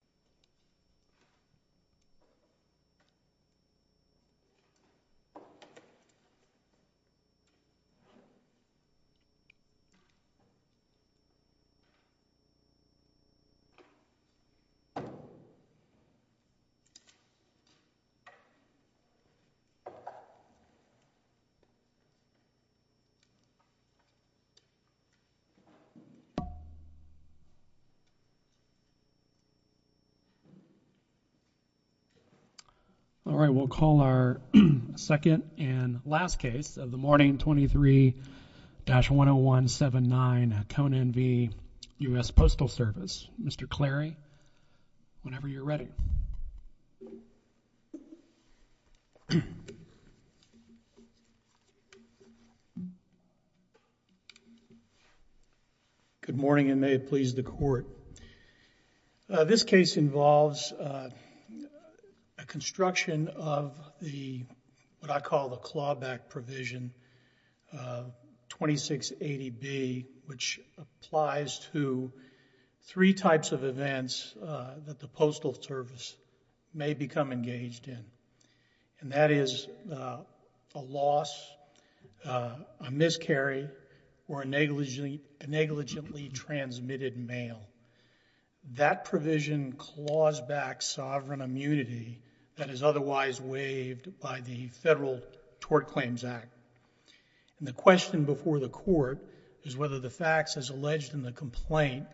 U.S. All right, we'll call our second and last case of the morning 23-10179 at Cone Envy U.S. Postal Service. Mr. Clary, whenever you're ready. Good morning and may it please the court. This case involves a construction of what I call the clawback provision 2680B, which applies to three types of events that the Postal Service may become engaged in and that is a loss, a miscarry, or a negligently transmitted mail. That provision claws back sovereign immunity that is otherwise waived by the Federal Tort Claims Act. The question before the court is whether the facts as alleged in the complaint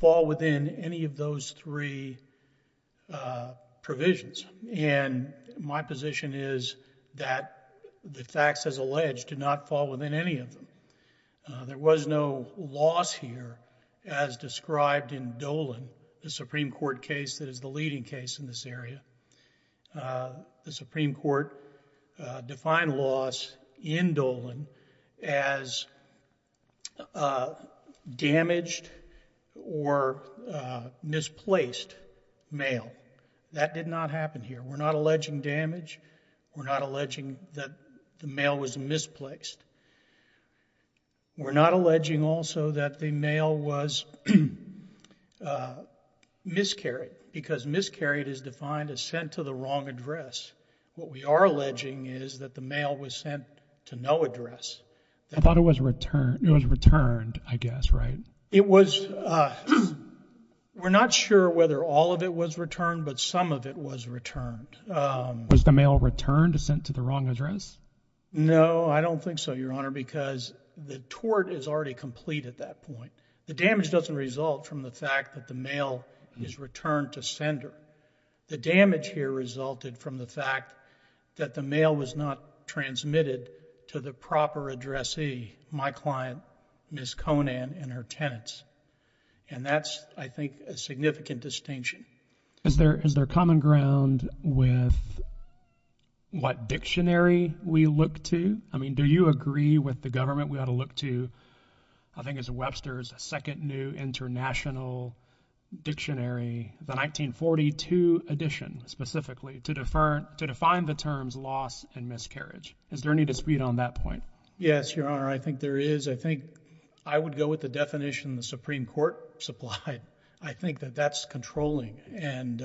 fall within any of those three provisions and my position is that the facts as alleged do not fall within any of them. There was no loss here as described in Dolan, the Supreme Court case that is the leading case in this area. The Supreme Court defined loss in Dolan as damaged or misplaced mail. That did not happen here. We're not alleging damage. We're not alleging that the mail was misplaced. We're not alleging also that the mail was miscarried because miscarried is defined as sent to the wrong address. What we are alleging is that the mail was sent to no address. I thought it was returned. It was returned, I guess, right? It was. We're not sure whether all of it was returned, but some of it was returned. Was the mail returned, sent to the wrong address? No, I don't think so, Your Honor, because the tort is already complete at that point. The damage doesn't result from the fact that the mail is returned to sender. The damage here resulted from the fact that the mail was not transmitted to the proper addressee, my client, Ms. Conan, and her tenants. And that's, I think, a significant distinction. Is there common ground with what dictionary we look to? I mean, do you agree with the government we ought to look to, I think it's Webster's Second New International Dictionary, the 1942 edition specifically, to define the terms loss and miscarriage? Is there any dispute on that point? Yes, Your Honor. I think there is. I think I would go with the definition the Supreme Court supplied. I think that that's controlling, and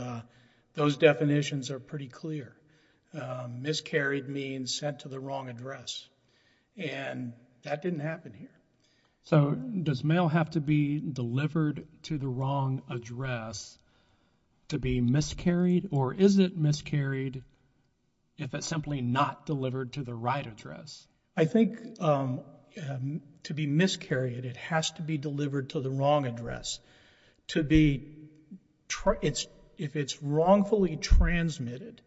those definitions are pretty clear. Miscarried means sent to the wrong address, and that didn't happen here. So does mail have to be delivered to the wrong address to be miscarried, or is it miscarried if it's simply not delivered to the right address? I think to be miscarried, it has to be delivered to the wrong address. To be, if it's wrongfully transmitted,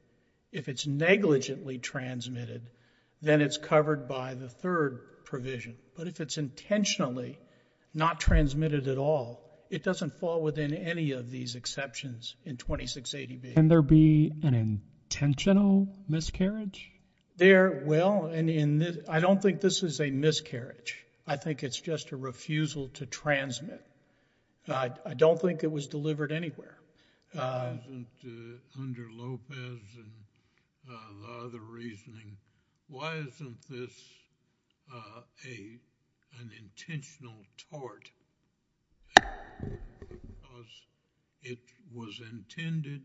if it's negligently transmitted, then it's covered by the third provision. But if it's intentionally not transmitted at all, it doesn't fall within any of these exceptions in 2680B. Can there be an intentional miscarriage? There, well, and I don't think this is a miscarriage. I think it's just a refusal to transmit. I don't think it was delivered anywhere. Under Lopez and the other reasoning, why isn't this an intentional tort because it was intended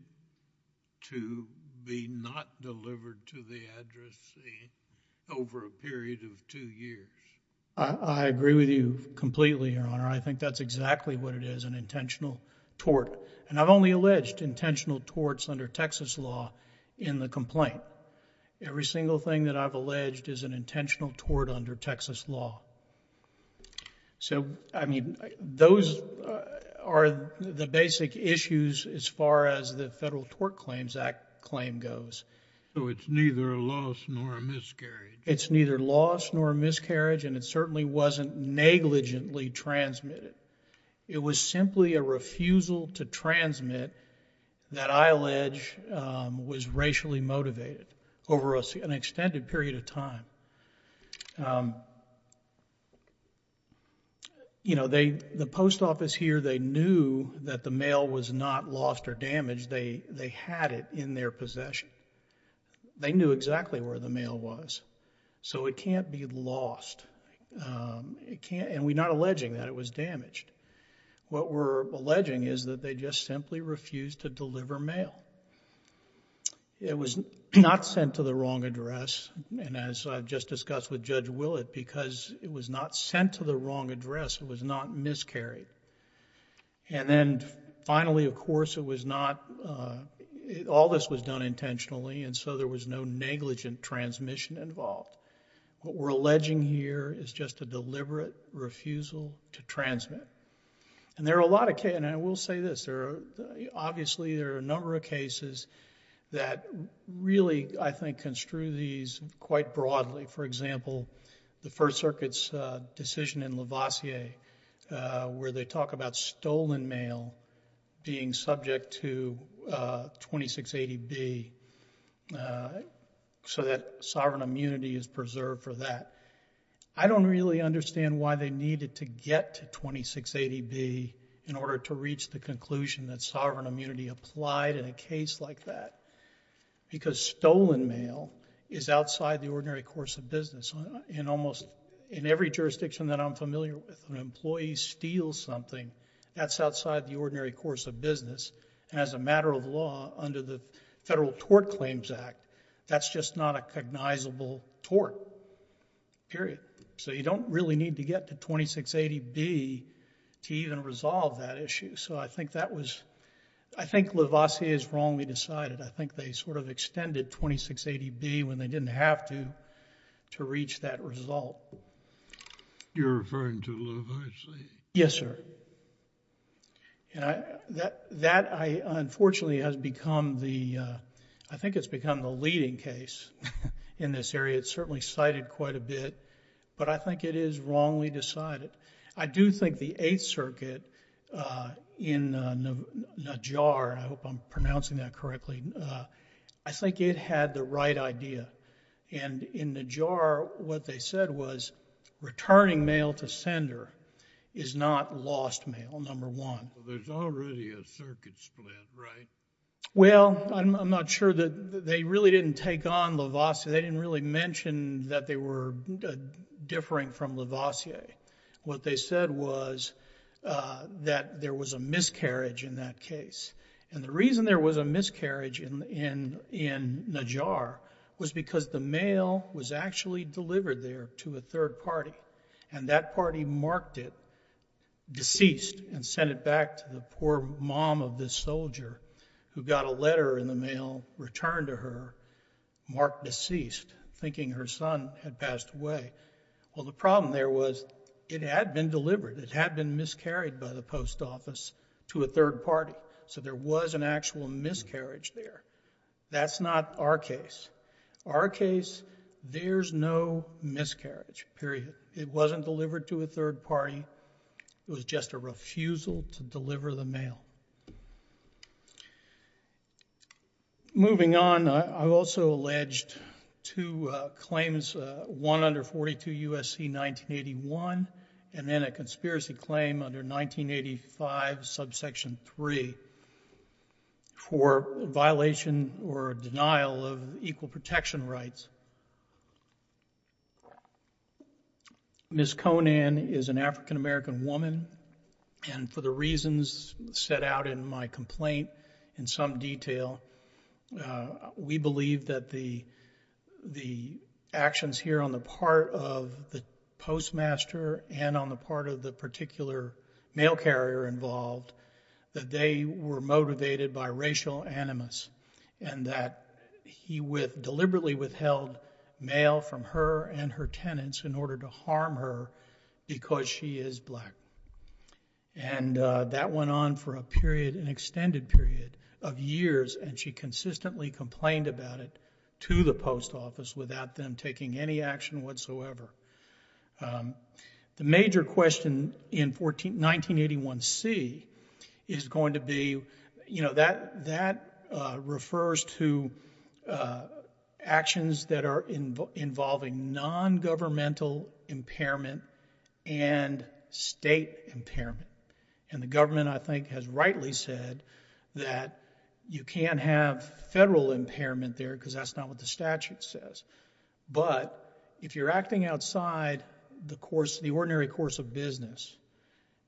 to be not delivered to the address over a period of two years? I agree with you completely, Your Honor. I think that's exactly what it is, an intentional tort. And I've only alleged intentional torts under Texas law in the complaint. Every single thing that I've alleged is an intentional tort under Texas law. So, I mean, those are the basic issues as far as the Federal Tort Claims Act claim goes. So it's neither a loss nor a miscarriage. It's neither loss nor a miscarriage, and it certainly wasn't negligently transmitted. It was simply a refusal to transmit that I allege was racially motivated over an extended period of time. You know, the post office here, they knew that the mail was not lost or damaged. They had it in their possession. They knew exactly where the mail was. So it can't be lost, and we're not alleging that it was damaged. What we're alleging is that they just simply refused to deliver mail. It was not sent to the wrong address, and as I've just discussed with Judge Willett, because it was not sent to the wrong address, it was not miscarried. And then finally, of course, it was not... all this was done intentionally, and so there was no negligent transmission involved. What we're alleging here is just a deliberate refusal to transmit. And there are a lot of... and I will say this. Obviously, there are a number of cases that really, I think, construe these quite broadly. For example, the First Circuit's decision in Lavoisier, where they talk about stolen mail being subject to 2680B so that sovereign immunity is preserved for that. I don't really understand why they needed to get to 2680B in order to reach the conclusion that sovereign immunity applied in a case like that, because stolen mail is outside the ordinary course of business. In almost... in every jurisdiction that I'm familiar with, an employee steals something. That's outside the ordinary course of business, and as a matter of law, under the Federal Tort Claims Act, that's just not a cognizable tort, period. So you don't really need to get to 2680B to even resolve that issue. So I think that was... I think Lavoisier's wrongly decided. I think they sort of extended 2680B when they didn't have to, to reach that result. You're referring to Lavoisier? Yes, sir. That, unfortunately, has become the... I think it's become the leading case in this area. It's certainly cited quite a bit, but I think it is wrongly decided. I do think the Eighth Circuit in Najjar... I hope I'm pronouncing that correctly. I think it had the right idea, and in Najjar, what they said was returning mail to sender is not lost mail, number one. Well, there's already a circuit split, right? Well, I'm not sure that... they really didn't take on Lavoisier. They didn't really mention that they were differing from Lavoisier. What they said was that there was a miscarriage in that case, and the reason there was a miscarriage in Najjar was because the mail was actually delivered there to a third party, and that third party marked it, deceased, and sent it back to the poor mom of this soldier who got a letter in the mail returned to her, marked deceased, thinking her son had passed away. Well, the problem there was, it had been delivered, it had been miscarried by the post office to a third party, so there was an actual miscarriage there. That's not our case. Our case, there's no miscarriage, period. It wasn't delivered to a third party. It was just a refusal to deliver the mail. Moving on, I've also alleged two claims, one under 42 U.S.C. 1981, and then a conspiracy claim under 1985, subsection 3, for violation or denial of equal protection rights. Ms. Conan is an African American woman, and for the reasons set out in my complaint in some detail, we believe that the actions here on the part of the postmaster and on the part of the particular mail carrier involved, that they were motivated by racial animus, and that he deliberately withheld mail from her and her tenants in order to harm her because she is black. That went on for a period, an extended period of years, and she consistently complained about it to the post office without them taking any action whatsoever. The major question in 1981C is going to be, that refers to actions that are involving non-governmental impairment and state impairment, and the government, I think, has rightly said that you can't have federal impairment there because that's not what the statute says, but if you're acting outside the ordinary course of business,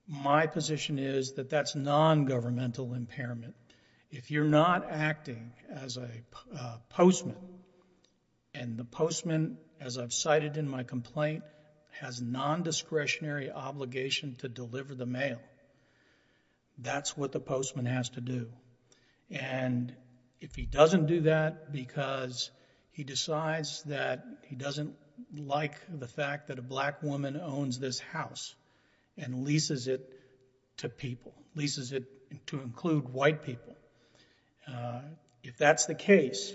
my position is that that's non-governmental impairment. If you're not acting as a postman, and the postman, as I've cited in my complaint, has non-discretionary obligation to deliver the mail, that's what the postman has to do, and if he doesn't do that because he decides that he doesn't like the fact that a black woman owns this house and leases it to people, leases it to include white people, if that's the case,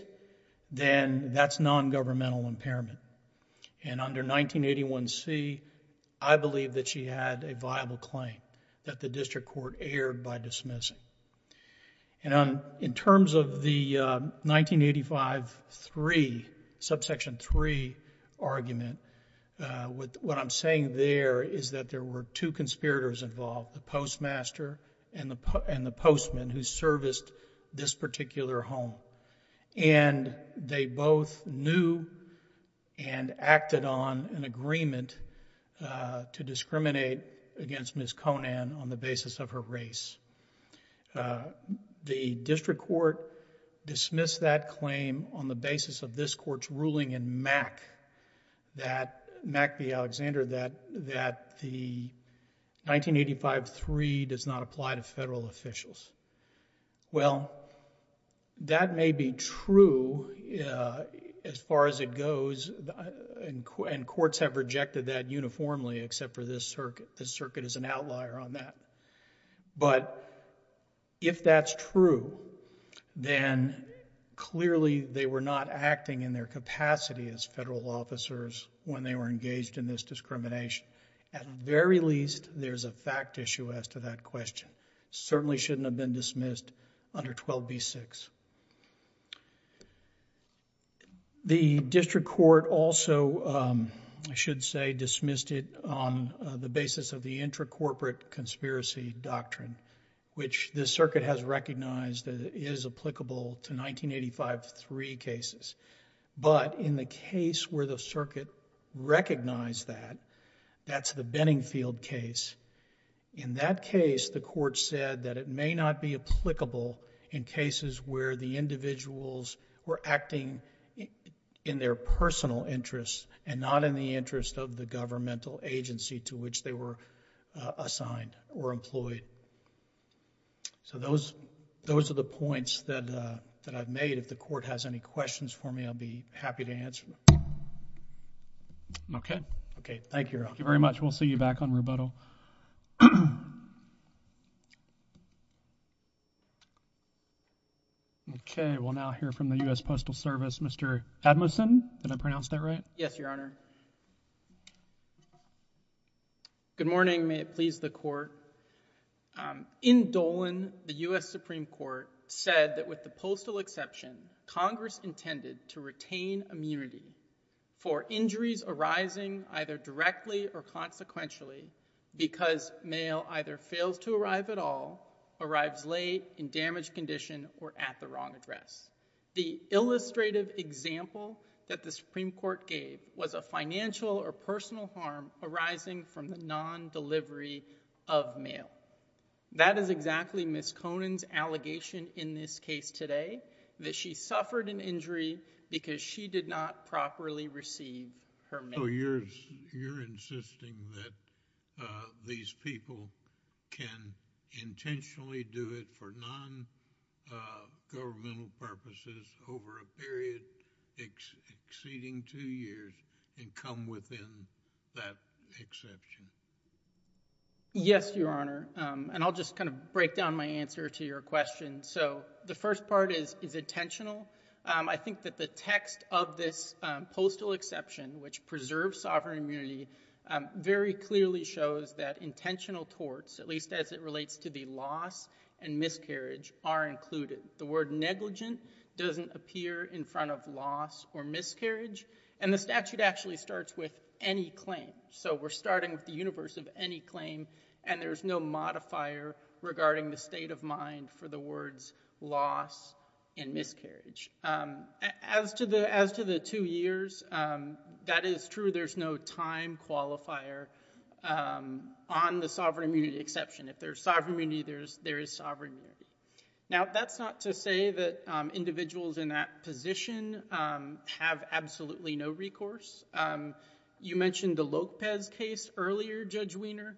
then that's non-governmental impairment. Under 1981C, I believe that she had a viable claim that the district court erred by dismissing. In terms of the 1985C, subsection 3 argument, what I'm saying there is that there were two conspirators involved, the postmaster and the postman who serviced this particular home, and they both knew and acted on an agreement to discriminate against Ms. Conan on the basis of her race. The district court dismissed that claim on the basis of this court's ruling in Mack v. Alexander that the 1985C does not apply to federal officials. Well, that may be true as far as it goes, and courts have rejected that uniformly except for this circuit. This circuit is an outlier on that, but if that's true, then clearly they were not acting in their capacity as federal officers when they were engaged in this discrimination. At the very least, there's a fact issue as to that question. Certainly shouldn't have been dismissed under 12B6. The district court also, I should say, dismissed it on the basis of the intracorporate conspiracy doctrine, which this circuit has recognized that it is applicable to 1985C cases, but in the case where the circuit recognized that, that's the Benningfield case. In that case, the court said that it may not be applicable in cases where the individuals were acting in their personal interests and not in the interest of the governmental agency to which they were assigned or employed. So those are the points that I've made. If the court has any questions for me, I'll be happy to answer them. Okay. Okay. Thank you, Your Honor. Thank you very much. We'll see you back on rebuttal. Okay. We'll now hear from the U.S. Postal Service. Mr. Admessen, did I pronounce that right? Yes, Your Honor. Good morning. May it please the court. In Dolan, the U.S. Supreme Court said that with the postal exception, Congress intended Thank you. Thank you. Thank you. Thank you. Thank you. Thank you. Thank you. Thank you. Thank you. Thank you. Thank you. And is it true that these people can intentionally do it for non-governmental purposes over a period exceeding two years and come within that exception? Yes, Your Honor. And I'll just kind of break down my answer to your question. So the first part is intentional. I think that the text of this postal exception, which preserves sovereign immunity, very clearly shows that intentional torts, at least as it relates to the loss and miscarriage, are included. The word negligent doesn't appear in front of loss or miscarriage. And the statute actually starts with any claim. So we're starting with the universe of any claim, and there's no modifier regarding the state of mind for the words loss and miscarriage. As to the two years, that is true. There's no time qualifier on the sovereign immunity exception. If there's sovereign immunity, there is sovereign immunity. Now that's not to say that individuals in that position have absolutely no recourse. You mentioned the Lopez case earlier, Judge Wiener.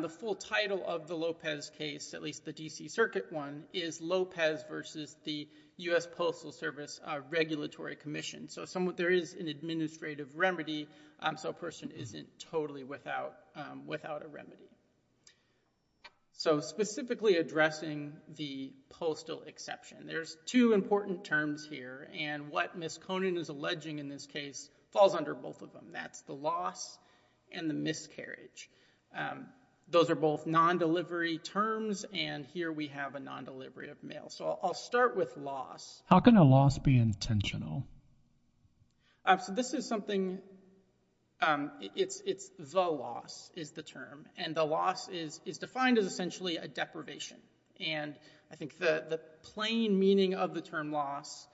The full title of the Lopez case, at least the D.C. Circuit one, is Lopez versus the U.S. Postal Service Regulatory Commission. So there is an administrative remedy, so a person isn't totally without a remedy. So specifically addressing the postal exception, there's two important terms here. And what Ms. Conin is alleging in this case falls under both of them. That's the loss and the miscarriage. Those are both non-delivery terms, and here we have a non-delivery of mail. So I'll start with loss. How can a loss be intentional? So this is something, it's the loss is the term. And the loss is defined as essentially a deprivation. And I think the plain meaning of the term loss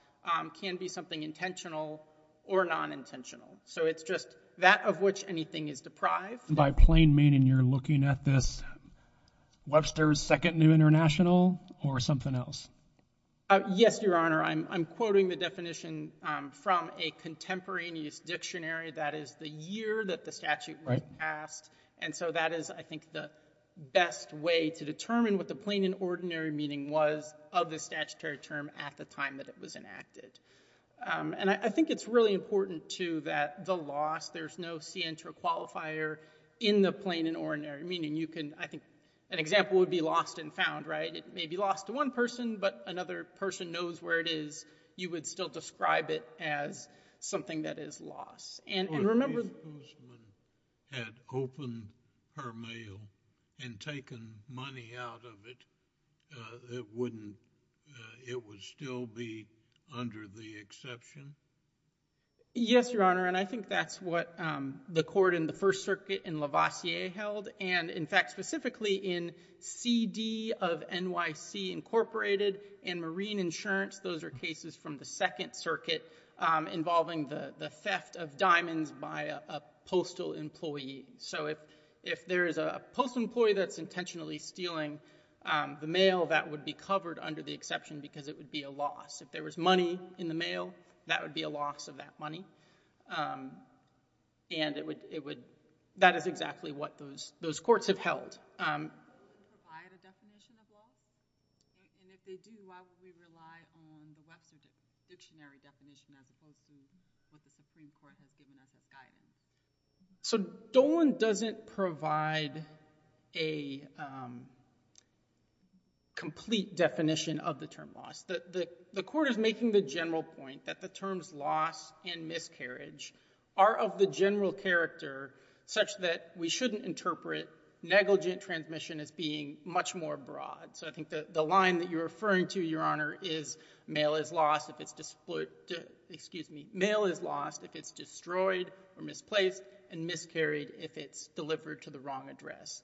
can be something intentional or non-intentional. So it's just that of which anything is deprived. By plain meaning, you're looking at this Webster's Second New International or something else? Yes, Your Honor. I'm quoting the definition from a contemporaneous dictionary. That is the year that the statute was passed. And so that is, I think, the best way to determine what the plain and ordinary meaning was of the statutory term at the time that it was enacted. And I think it's really important too that the loss, there's no scientra qualifier in the plain and ordinary. Meaning you can, I think, an example would be lost and found, right? It may be lost to one person, but another person knows where it is. You would still describe it as something that is loss. And remember- If a businessman had opened her mail and taken money out of it, it wouldn't, it would still be under the exception? Yes, Your Honor. And I think that's what the court in the First Circuit in Lavoisier held. And in fact, specifically in CD of NYC Incorporated and Marine Insurance. Those are cases from the Second Circuit involving the theft of diamonds by a postal employee. So if there is a postal employee that's intentionally stealing the mail, that would be covered under the exception because it would be a loss. If there was money in the mail, that would be a loss of that money. And it would, that is exactly what those courts have held. Do they provide a definition of loss? And if they do, why would we rely on the Webster Dictionary definition as opposed to what the Supreme Court has given us as guidance? So Dolan doesn't provide a complete definition of the term loss. The court is making the general point that the terms loss and miscarriage are of the general character such that we shouldn't interpret negligent transmission as being much more broad. So I think that the line that you're referring to, Your Honor, is mail is lost if it's destroyed or misplaced and miscarried if it's delivered to the wrong address.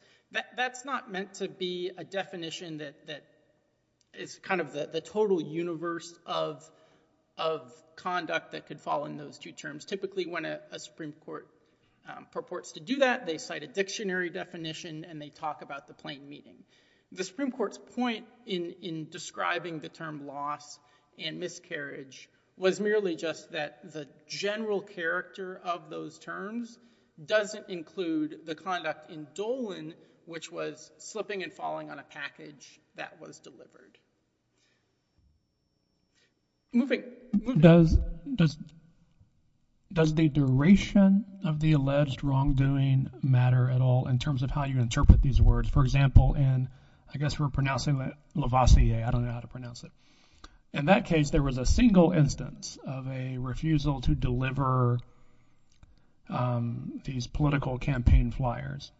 That's not meant to be a definition that is kind of the total universe of conduct that could fall in those two terms. Typically when a Supreme Court purports to do that, they cite a dictionary definition and they talk about the plain meaning. The Supreme Court's point in describing the term loss and miscarriage as the character of those terms doesn't include the conduct in Dolan, which was slipping and falling on a package that was delivered. Moving, moving. Does, does, does the duration of the alleged wrongdoing matter at all in terms of how you interpret these words? For example, in, I guess we're pronouncing it Lavoisier, I don't know how to pronounce it. In that case, there was a single instance of a refusal to deliver these political campaign flyers.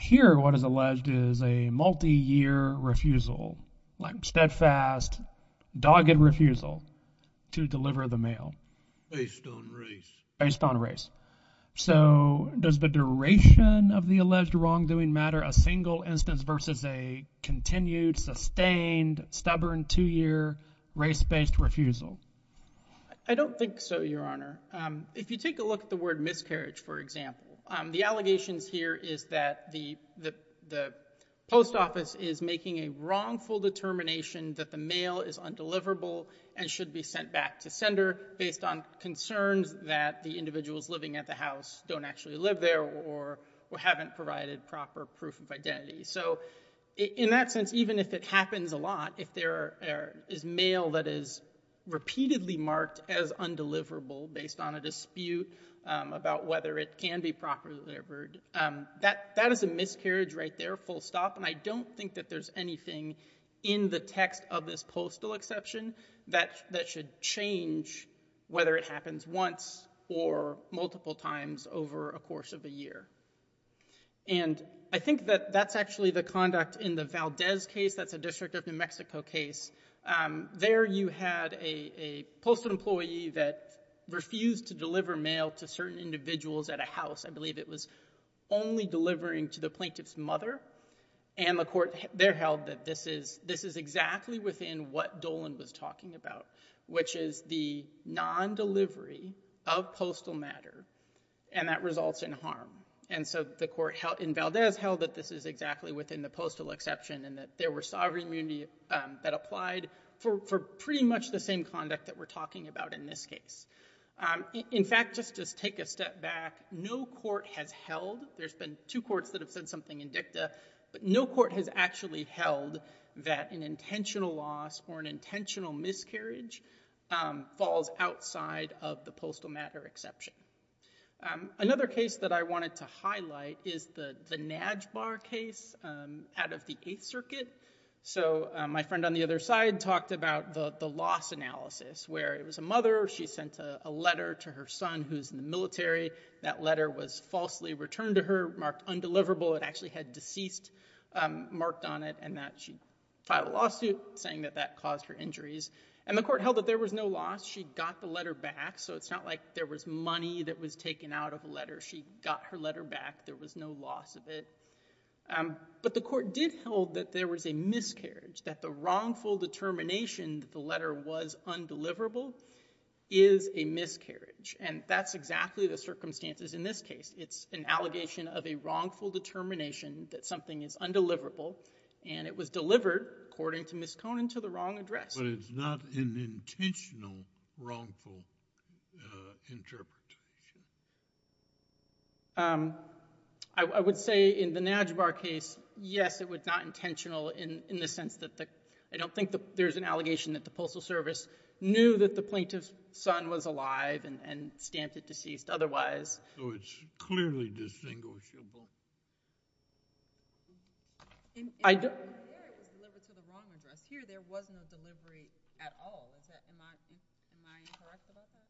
Here, what is alleged is a multi-year refusal, like steadfast, dogged refusal to deliver the mail. Based on race. Based on race. So does the duration of the alleged wrongdoing matter a single instance versus a multi-year race-based refusal? I don't think so, your honor. If you take a look at the word miscarriage, for example, the allegations here is that the, the, the post office is making a wrongful determination that the mail is undeliverable and should be sent back to sender based on concerns that the individuals living at the house don't actually live there or haven't provided proper proof of identity. So in that sense, even if it happens a lot, if there is mail that is repeatedly marked as undeliverable based on a dispute about whether it can be properly delivered, that, that is a miscarriage right there, full stop. And I don't think that there's anything in the text of this postal exception that, that should change whether it happens once or multiple times over a course of a year. And I think that that's actually the conduct in the Valdez case. That's a district of New Mexico case. There you had a, a postal employee that refused to deliver mail to certain individuals at a house. I believe it was only delivering to the plaintiff's mother. And the court there held that this is, this is exactly within what Dolan was talking about, which is the non-delivery of postal matter, and that results in harm. And so the court held, in Valdez, held that this is exactly within the postal exception, and that there were sovereign immunity that applied for, for pretty much the same conduct that we're talking about in this case. In fact, just, just take a step back. No court has held, there's been two courts that have said something in dicta, but no court has actually held that an intentional loss or an intentional miscarriage falls outside of the postal matter exception. Another case that I wanted to highlight is the, the Najbar case out of the Eighth Circuit. So my friend on the other side talked about the, the loss analysis, where it was a mother, she sent a, a letter to her son who's in the military. That letter was falsely returned to her, marked undeliverable. It actually had deceased marked on it, and that she filed a lawsuit saying that that caused her injuries. And the court held that there was no loss. She got the letter back, so it's not like there was money that was taken out of the letter. She got her letter back. There was no loss of it. But the court did hold that there was a miscarriage, that the wrongful determination that the letter was undeliverable is a miscarriage. And that's exactly the circumstances in this case. It's an allegation of a wrongful determination that something is undeliverable. And it was delivered, according to Ms. Conant, to the wrong address. But it's not an intentional wrongful interpretation. I, I would say in the Najbar case, yes, it was not intentional in, in the sense that the, I don't think there's an allegation that the postal service knew that the plaintiff's son was alive and, and stamped it deceased otherwise. So it's clearly distinguishable. I don't. And here it was delivered to the wrong address. Here there was no delivery at all. Is that, am I, am I correct about that?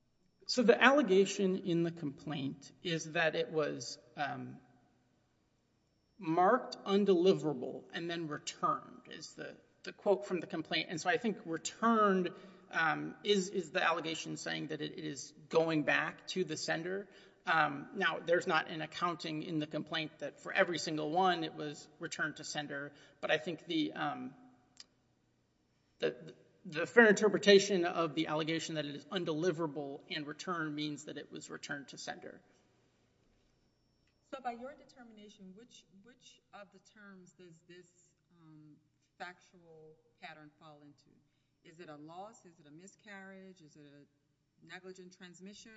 So the allegation in the complaint is that it was marked undeliverable and then returned is the, the quote from the complaint. And so I think returned is, is the allegation saying that it is going back to the sender now there's not an accounting in the complaint that for every single one it was returned to sender. But I think the the, the fair interpretation of the allegation that it is undeliverable in return means that it was returned to sender. So by your determination, which, which of the terms does this factual pattern fall into? Is it a loss, is it a miscarriage, is it a negligent transmission?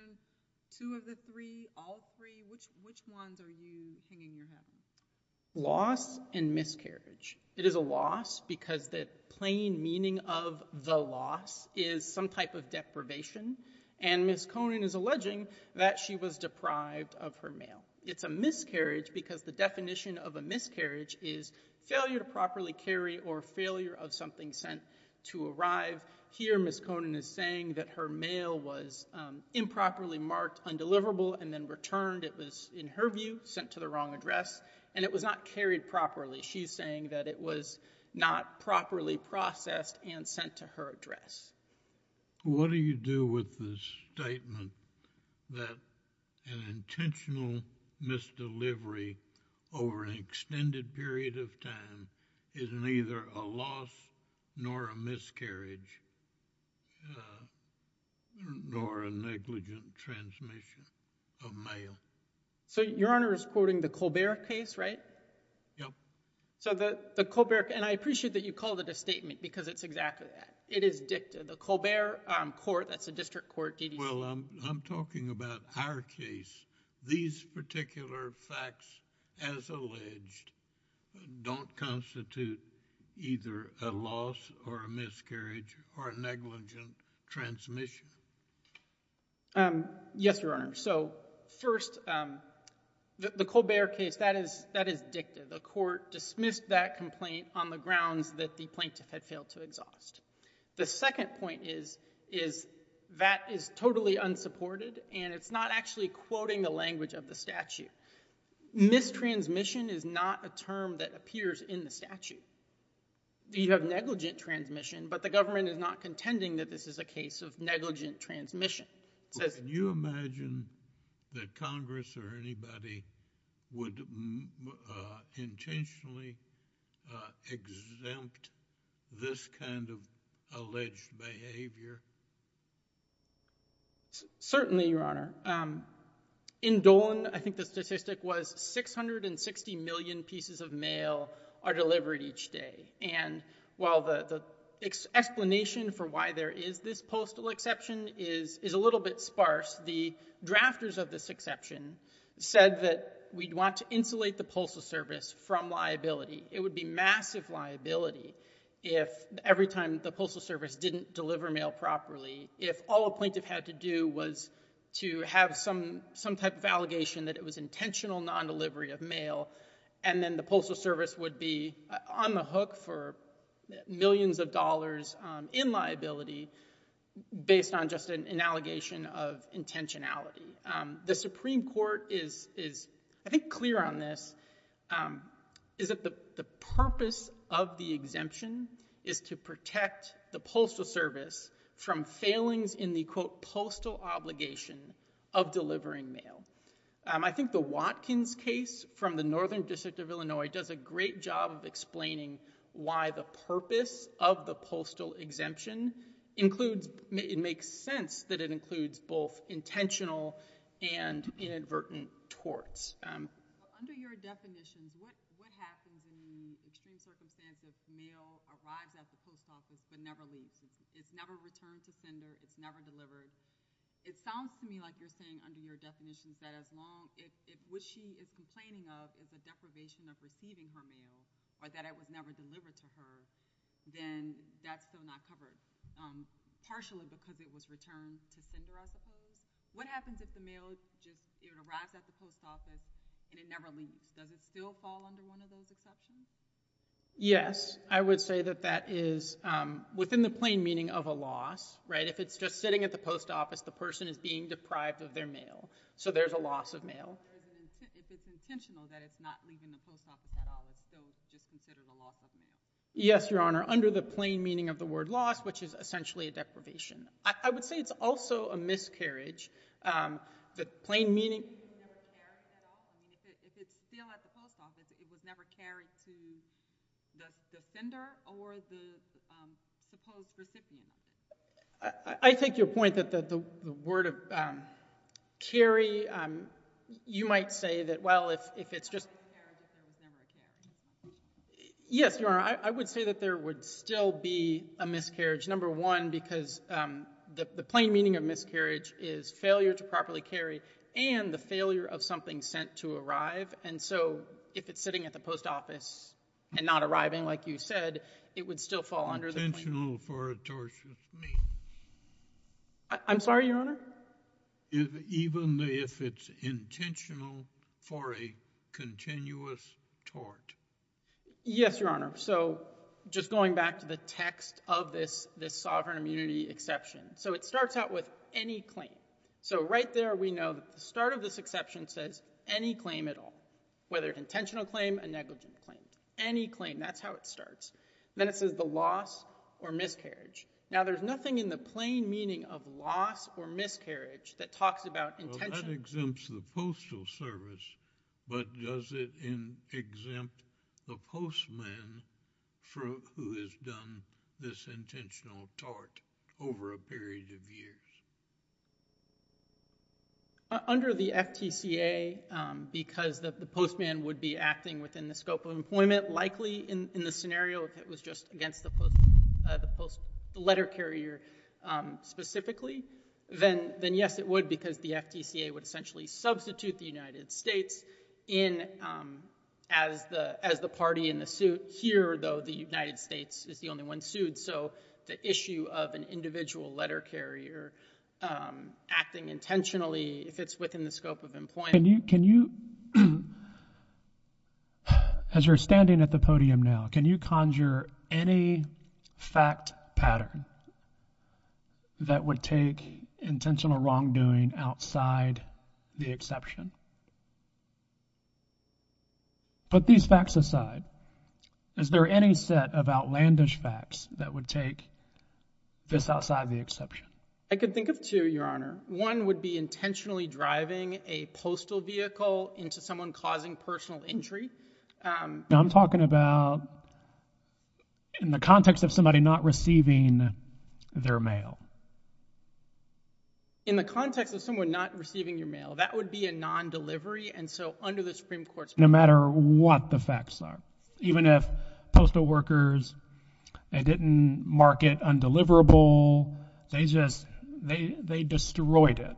Two of the three, all three, which, which ones are you hanging your head on? Loss and miscarriage. It is a loss because the plain meaning of the loss is some type of deprivation. And Ms. Conan is alleging that she was deprived of her mail. It's a miscarriage because the definition of a miscarriage is failure to properly carry or failure of something sent to arrive. Here, Ms. Conan is saying that her mail was improperly marked undeliverable and then returned. It was, in her view, sent to the wrong address. And it was not carried properly. She's saying that it was not properly processed and sent to her address. What do you do with the statement that an intentional misdelivery over an extended period of time is neither a loss nor a miscarriage, nor a negligent transmission of mail? So your Honor is quoting the Colbert case, right? Yep. So the, the Colbert, and I appreciate that you called it a statement because it's exactly that. It is dicta. The Colbert court, that's a district court, DDC. Well, I'm, I'm talking about our case. These particular facts, as alleged, don't constitute either a loss or a miscarriage or a negligent transmission. Yes, Your Honor. So, first the, the Colbert case, that is, that is dicta. The court dismissed that complaint on the grounds that the plaintiff had failed to exhaust. The second point is, is that is totally unsupported and it's not actually quoting the language of the statute. Mistransmission is not a term that appears in the statute. You have negligent transmission, but the government is not contending that this is a case of negligent transmission. So can you imagine that Congress or anybody would intentionally exempt this kind of alleged behavior? Certainly, Your Honor. In Dolan, I think the statistic was 660 million pieces of mail are delivered each day, and while the, the explanation for why there is this postal exception is, is a little bit sparse. The drafters of this exception said that we'd want to insulate the postal service from liability. It would be massive liability if every time the postal service didn't deliver mail properly, if all a plaintiff had to do was to have some, some type of allegation that it was intentional non-delivery of mail. And then the postal service would be on the hook for millions of dollars in liability based on just an, an allegation of intentionality. The Supreme Court is, is, I think, clear on this, is that the, from failings in the, quote, postal obligation of delivering mail. I think the Watkins case from the Northern District of Illinois does a great job of explaining why the purpose of the postal exemption includes, it makes sense that it includes both intentional and inadvertent torts. Under your definition, what, what happens in extreme circumstance if mail arrives at the post office, but never leaves. It's never returned to sender, it's never delivered. It sounds to me like you're saying under your definitions that as long, if, if what she is complaining of is a deprivation of receiving her mail, or that it was never delivered to her, then that's still not covered. Partially because it was returned to sender, I suppose. What happens if the mail just, it arrives at the post office, and it never leaves? Does it still fall under one of those exceptions? Yes, I would say that that is within the plain meaning of a loss, right? If it's just sitting at the post office, the person is being deprived of their mail. So there's a loss of mail. If it's intentional that it's not leaving the post office at all, it's still just considered a loss of mail. Yes, your honor, under the plain meaning of the word loss, which is essentially a deprivation. I, I would say it's also a miscarriage that plain meaning. If it was never carried at all, I mean, if it, if it's still at the post office, it was never carried to the, the sender or the supposed recipient. I, I, I take your point that, that the, the word of carry you might say that, well, if, if it's just. It's a miscarriage if it was never carried. Yes, your honor, I, I would say that there would still be a miscarriage. Number one, because the, the plain meaning of miscarriage is failure to properly carry and the failure of something sent to arrive. And so, if it's sitting at the post office and not arriving like you said, it would still fall under the. Intentional for a tortious means. I'm sorry, your honor? Even if it's intentional for a continuous tort. Yes, your honor. So, just going back to the text of this, this sovereign immunity exception. So it starts out with any claim. So right there we know that the start of this exception says, any claim at all. Whether intentional claim, a negligent claim. Any claim, that's how it starts. Then it says the loss or miscarriage. Now there's nothing in the plain meaning of loss or miscarriage that talks about intention. Well, that exempts the postal service, but does it exempt the postman from, who has done this intentional tort over a period of years? Under the FTCA, because the postman would be acting within the scope of employment. Likely in, in the scenario if it was just against the post, the post, the letter carrier specifically. Then, then yes it would because the FTCA would essentially substitute the United States in as the, as the party in the suit. Here though, the United States is the only one sued, so the issue of an individual letter carrier acting intentionally, if it's within the scope of employment. Can you, can you, as you're standing at the podium now, can you conjure any fact pattern that would take intentional wrongdoing outside the exception? Put these facts aside, is there any set of outlandish facts that would take this outside the exception? I could think of two, Your Honor. One would be intentionally driving a postal vehicle into someone causing personal injury. Now I'm talking about in the context of somebody not receiving their mail. In the context of someone not receiving your mail, that would be a non-delivery, and so under the Supreme Court's. No matter what the facts are. Even if postal workers, they didn't mark it undeliverable. They just, they, they destroyed it.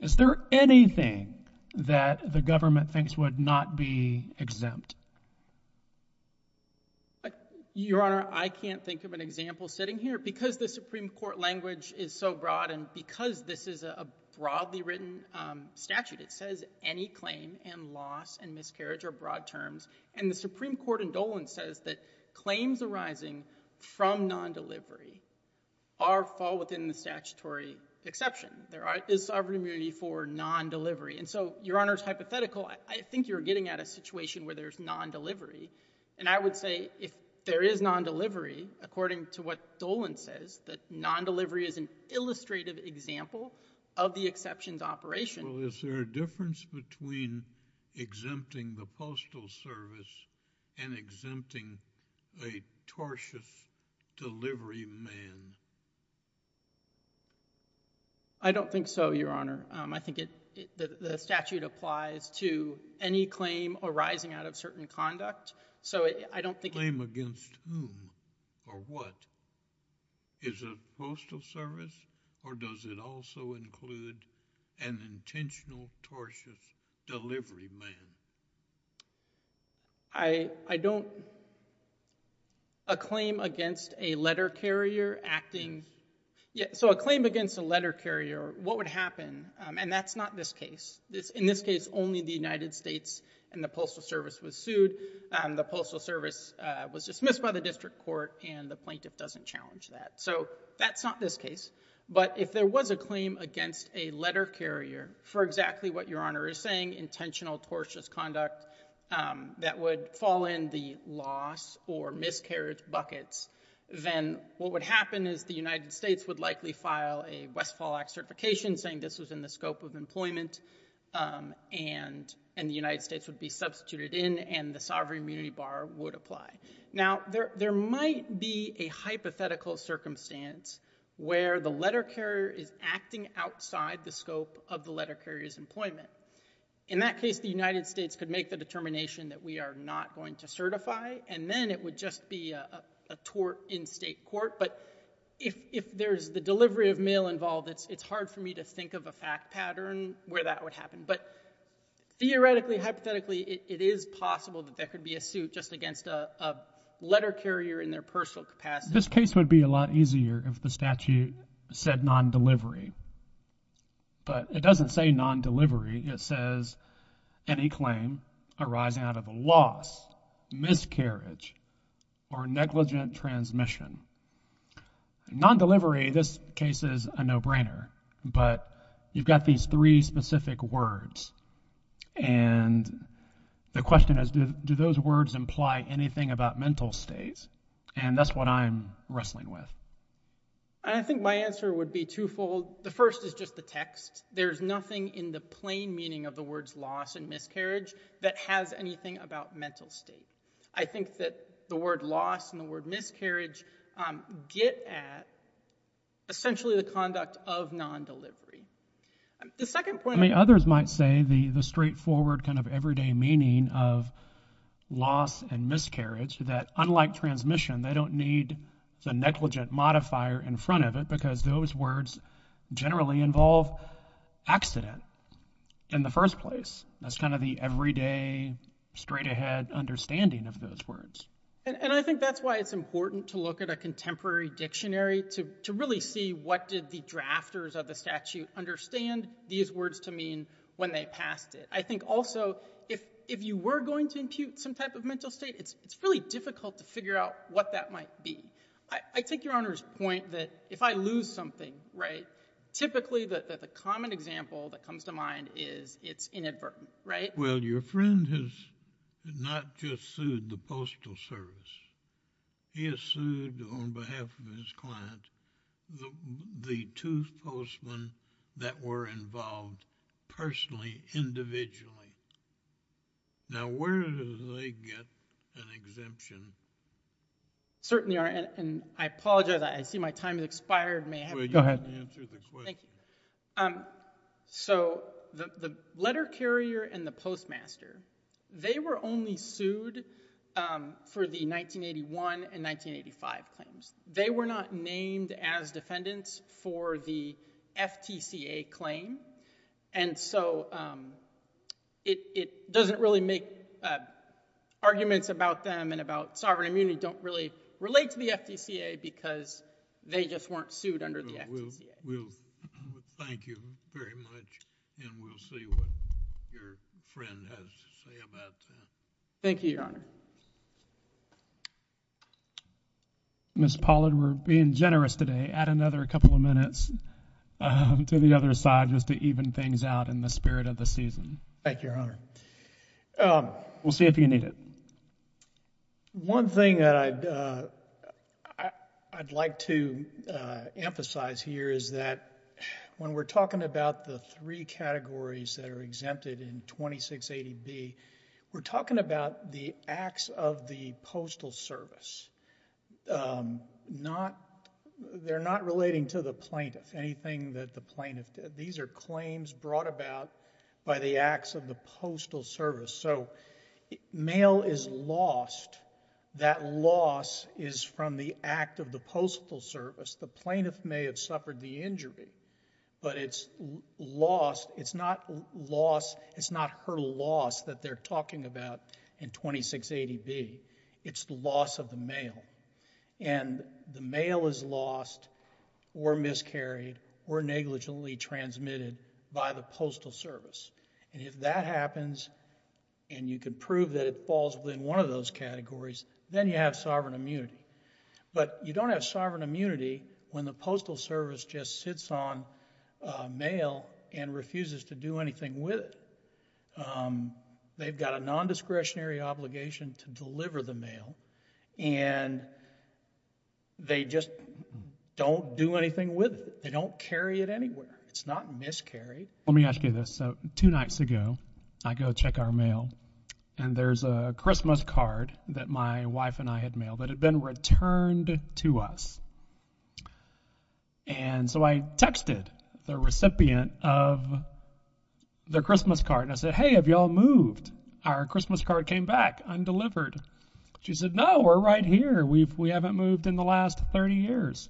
Is there anything that the government thinks would not be exempt? Your Honor, I can't think of an example sitting here. Because the Supreme Court language is so broad, and because this is a, a broadly written statute. It says any claim and loss and miscarriage are broad terms. And the Supreme Court in Dolan says that claims arising from non-delivery are, fall within the statutory exception. There are, is sovereign immunity for non-delivery. And so, Your Honor's hypothetical, I, I think you're getting at a situation where there's non-delivery. And I would say, if there is non-delivery, according to what Dolan says, that non-delivery is an illustrative example of the exceptions operation. Well, is there a difference between exempting the postal service and exempting a tortious delivery man? I don't think so, Your Honor. I think it, it, the, the statute applies to any claim arising out of certain conduct. So it, I don't think. Claim against whom or what? Is it postal service? Or does it also include an intentional tortious delivery man? I, I don't, a claim against a letter carrier acting. Yeah, so a claim against a letter carrier, what would happen? And that's not this case. This, in this case, only the United States and the postal service was sued. The postal service was dismissed by the district court and the plaintiff doesn't challenge that. So that's not this case. But if there was a claim against a letter carrier for exactly what Your Honor is saying, intentional tortious conduct that would fall in the loss or miscarriage buckets, then what would happen is the United States would likely file a Westfall Act certification saying this was in the scope of employment and, and the United States would be substituted in and the sovereign immunity bar would apply. Now, there, there might be a hypothetical circumstance where the letter carrier is acting outside the scope of the letter carrier's employment. In that case, the United States could make the determination that we are not going to certify, and then it would just be a, a, a tort in state court. But if, if there's the delivery of mail involved, it's, it's hard for me to think of a fact pattern where that would happen. But theoretically, hypothetically, it, it is possible that there could be a suit just against a, a letter carrier in their personal capacity. This case would be a lot easier if the statute said non-delivery. But it doesn't say non-delivery. It says any claim arising out of a loss, miscarriage, or negligent transmission. Non-delivery, this case is a no-brainer. But you've got these three specific words, and the question is, do, do those words imply anything about mental states? And that's what I'm wrestling with. I think my answer would be twofold. The first is just the text. There's nothing in the plain meaning of the words loss and miscarriage that has anything about mental state. I think that the word loss and the word miscarriage get at essentially the conduct of non-delivery. The second point. I mean, others might say the, the straightforward kind of everyday meaning of loss and miscarriage, that unlike transmission, they don't need the negligent modifier in front of it, because those words generally involve accident in the first place. That's kind of the everyday, straight ahead understanding of those words. And, and I think that's why it's important to look at a contemporary dictionary to, to really see what did the drafters of the statute understand. These words to mean when they passed it. I think also, if, if you were going to impute some type of mental state, it's, it's really difficult to figure out what that might be. I, I take your Honor's point that if I lose something, right, typically the, the common example that comes to mind is it's inadvertent, right? Well, your friend has not just sued the postal service. He has sued on behalf of his client the, the two postmen that were involved personally, individually. Now, where do they get an exemption? Certainly are, and, and I apologize, I see my time has expired. May I have? Go ahead. You didn't answer the question. So, the, the letter carrier and the postmaster, they were only sued for the 1981 and 1985 claims. They were not named as defendants for the FTCA claim. And so it, it doesn't really make arguments about them and about sovereign immunity don't really relate to the FTCA because they just weren't sued under the FTCA. We'll, we'll, thank you very much and we'll see what your friend has to say about that. Thank you, Your Honor. Ms. Pollard, we're being generous today. Add another couple of minutes to the other side, just to even things out in the spirit of the season. Thank you, Your Honor. We'll see if you need it. One thing that I'd, I'd like to emphasize here is that when we're talking about the three categories that are exempted in 2680B, we're talking about the acts of the postal service. Not, they're not relating to the plaintiff, anything that the plaintiff did. These are claims brought about by the acts of the postal service. So, mail is lost. That loss is from the act of the postal service. The plaintiff may have suffered the injury. But it's lost, it's not loss, it's not her loss that they're talking about in 2680B. It's the loss of the mail. And the mail is lost or miscarried or negligently transmitted by the postal service. And if that happens and you can prove that it falls within one of those categories, then you have sovereign immunity. But you don't have sovereign immunity when the postal service just sits on the mail and refuses to do anything with it. They've got a non-discretionary obligation to deliver the mail. And they just don't do anything with it. They don't carry it anywhere. It's not miscarried. Let me ask you this. So, two nights ago, I go check our mail. And there's a Christmas card that my wife and I had mailed that had been returned to us. And so I texted the recipient of the Christmas card and I said, hey, have you all moved? Our Christmas card came back undelivered. She said, no, we're right here. We haven't moved in the last 30 years.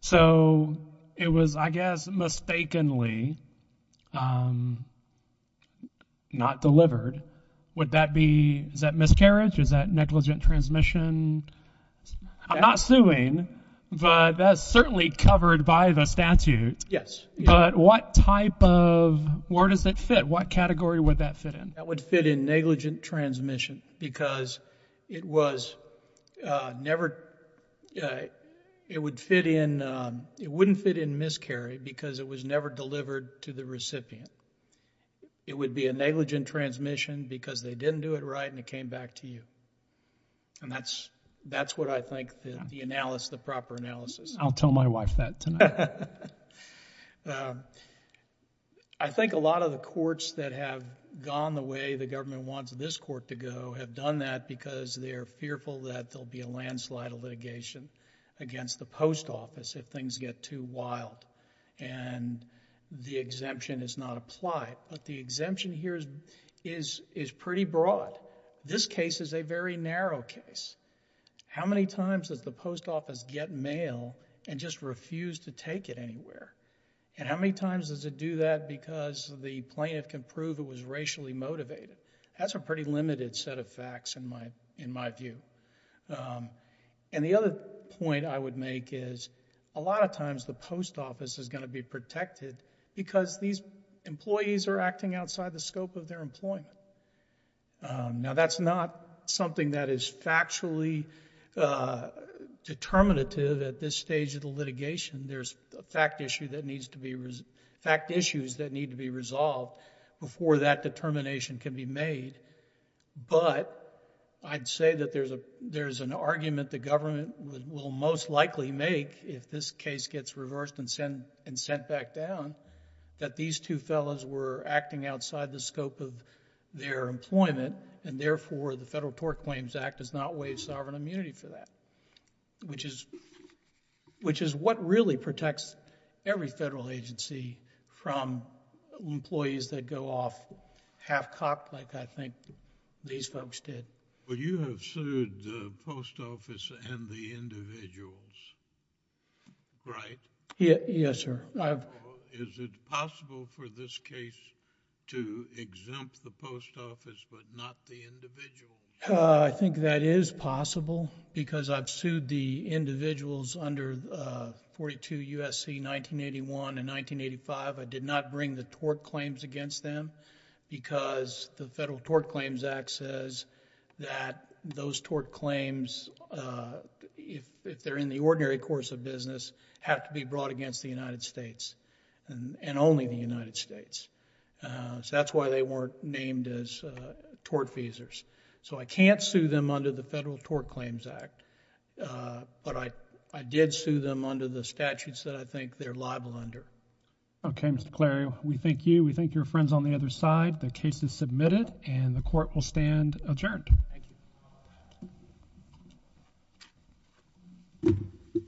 So, it was, I guess, mistakenly not delivered. Would that be, is that miscarriage? Is that negligent transmission? I'm not suing, but that's certainly covered by the statute. Yes. But what type of, where does it fit? What category would that fit in? That would fit in negligent transmission because it was never, it would fit in, it wouldn't fit in miscarry because it was never delivered to the recipient. It would be a negligent transmission because they didn't do it right and it came back to you. And that's, that's what I think the analysis, the proper analysis. I'll tell my wife that tonight. I think a lot of the courts that have gone the way the government wants this court to go have done that because they're fearful that there'll be a landslide of litigation against the post office if things get too wild. And the exemption is not applied. But the exemption here is, is, is pretty broad. This case is a very narrow case. How many times does the post office get mail and just refuse to take it anywhere? And how many times does it do that because the plaintiff can prove it was racially motivated? That's a pretty limited set of facts in my, in my view. And the other point I would make is, a lot of times the post office is going to be protected because these employees are acting outside the scope of their employment. Now that's not something that is factually determinative at this stage of the litigation. There's a fact issue that needs to be, fact issues that need to be resolved before that determination can be made. But I'd say that there's a, there's an argument the government would, will most likely make if this case gets reversed and sent, and sent back down. That these two fellows were acting outside the scope of their employment, and therefore the Federal Tort Claims Act does not waive sovereign immunity for that. Which is, which is what really protects every federal agency from employees that go off half cocked like I think these folks did. But you have sued the post office and the individuals, right? Yeah, yes sir. Is it possible for this case to exempt the post office but not the individuals? I think that is possible because I've sued the individuals under 42 U.S.C. 1981 and 1985. I did not bring the tort claims against them because the Federal Tort Claims Act says that those tort claims, if they're in the ordinary course of the United States, and only the United States, so that's why they weren't named as tort feasors. So I can't sue them under the Federal Tort Claims Act, but I, I did sue them under the statutes that I think they're liable under. Okay, Mr. Clarion, we thank you. We thank your friends on the other side. The case is submitted and the court will stand adjourned. Thank you.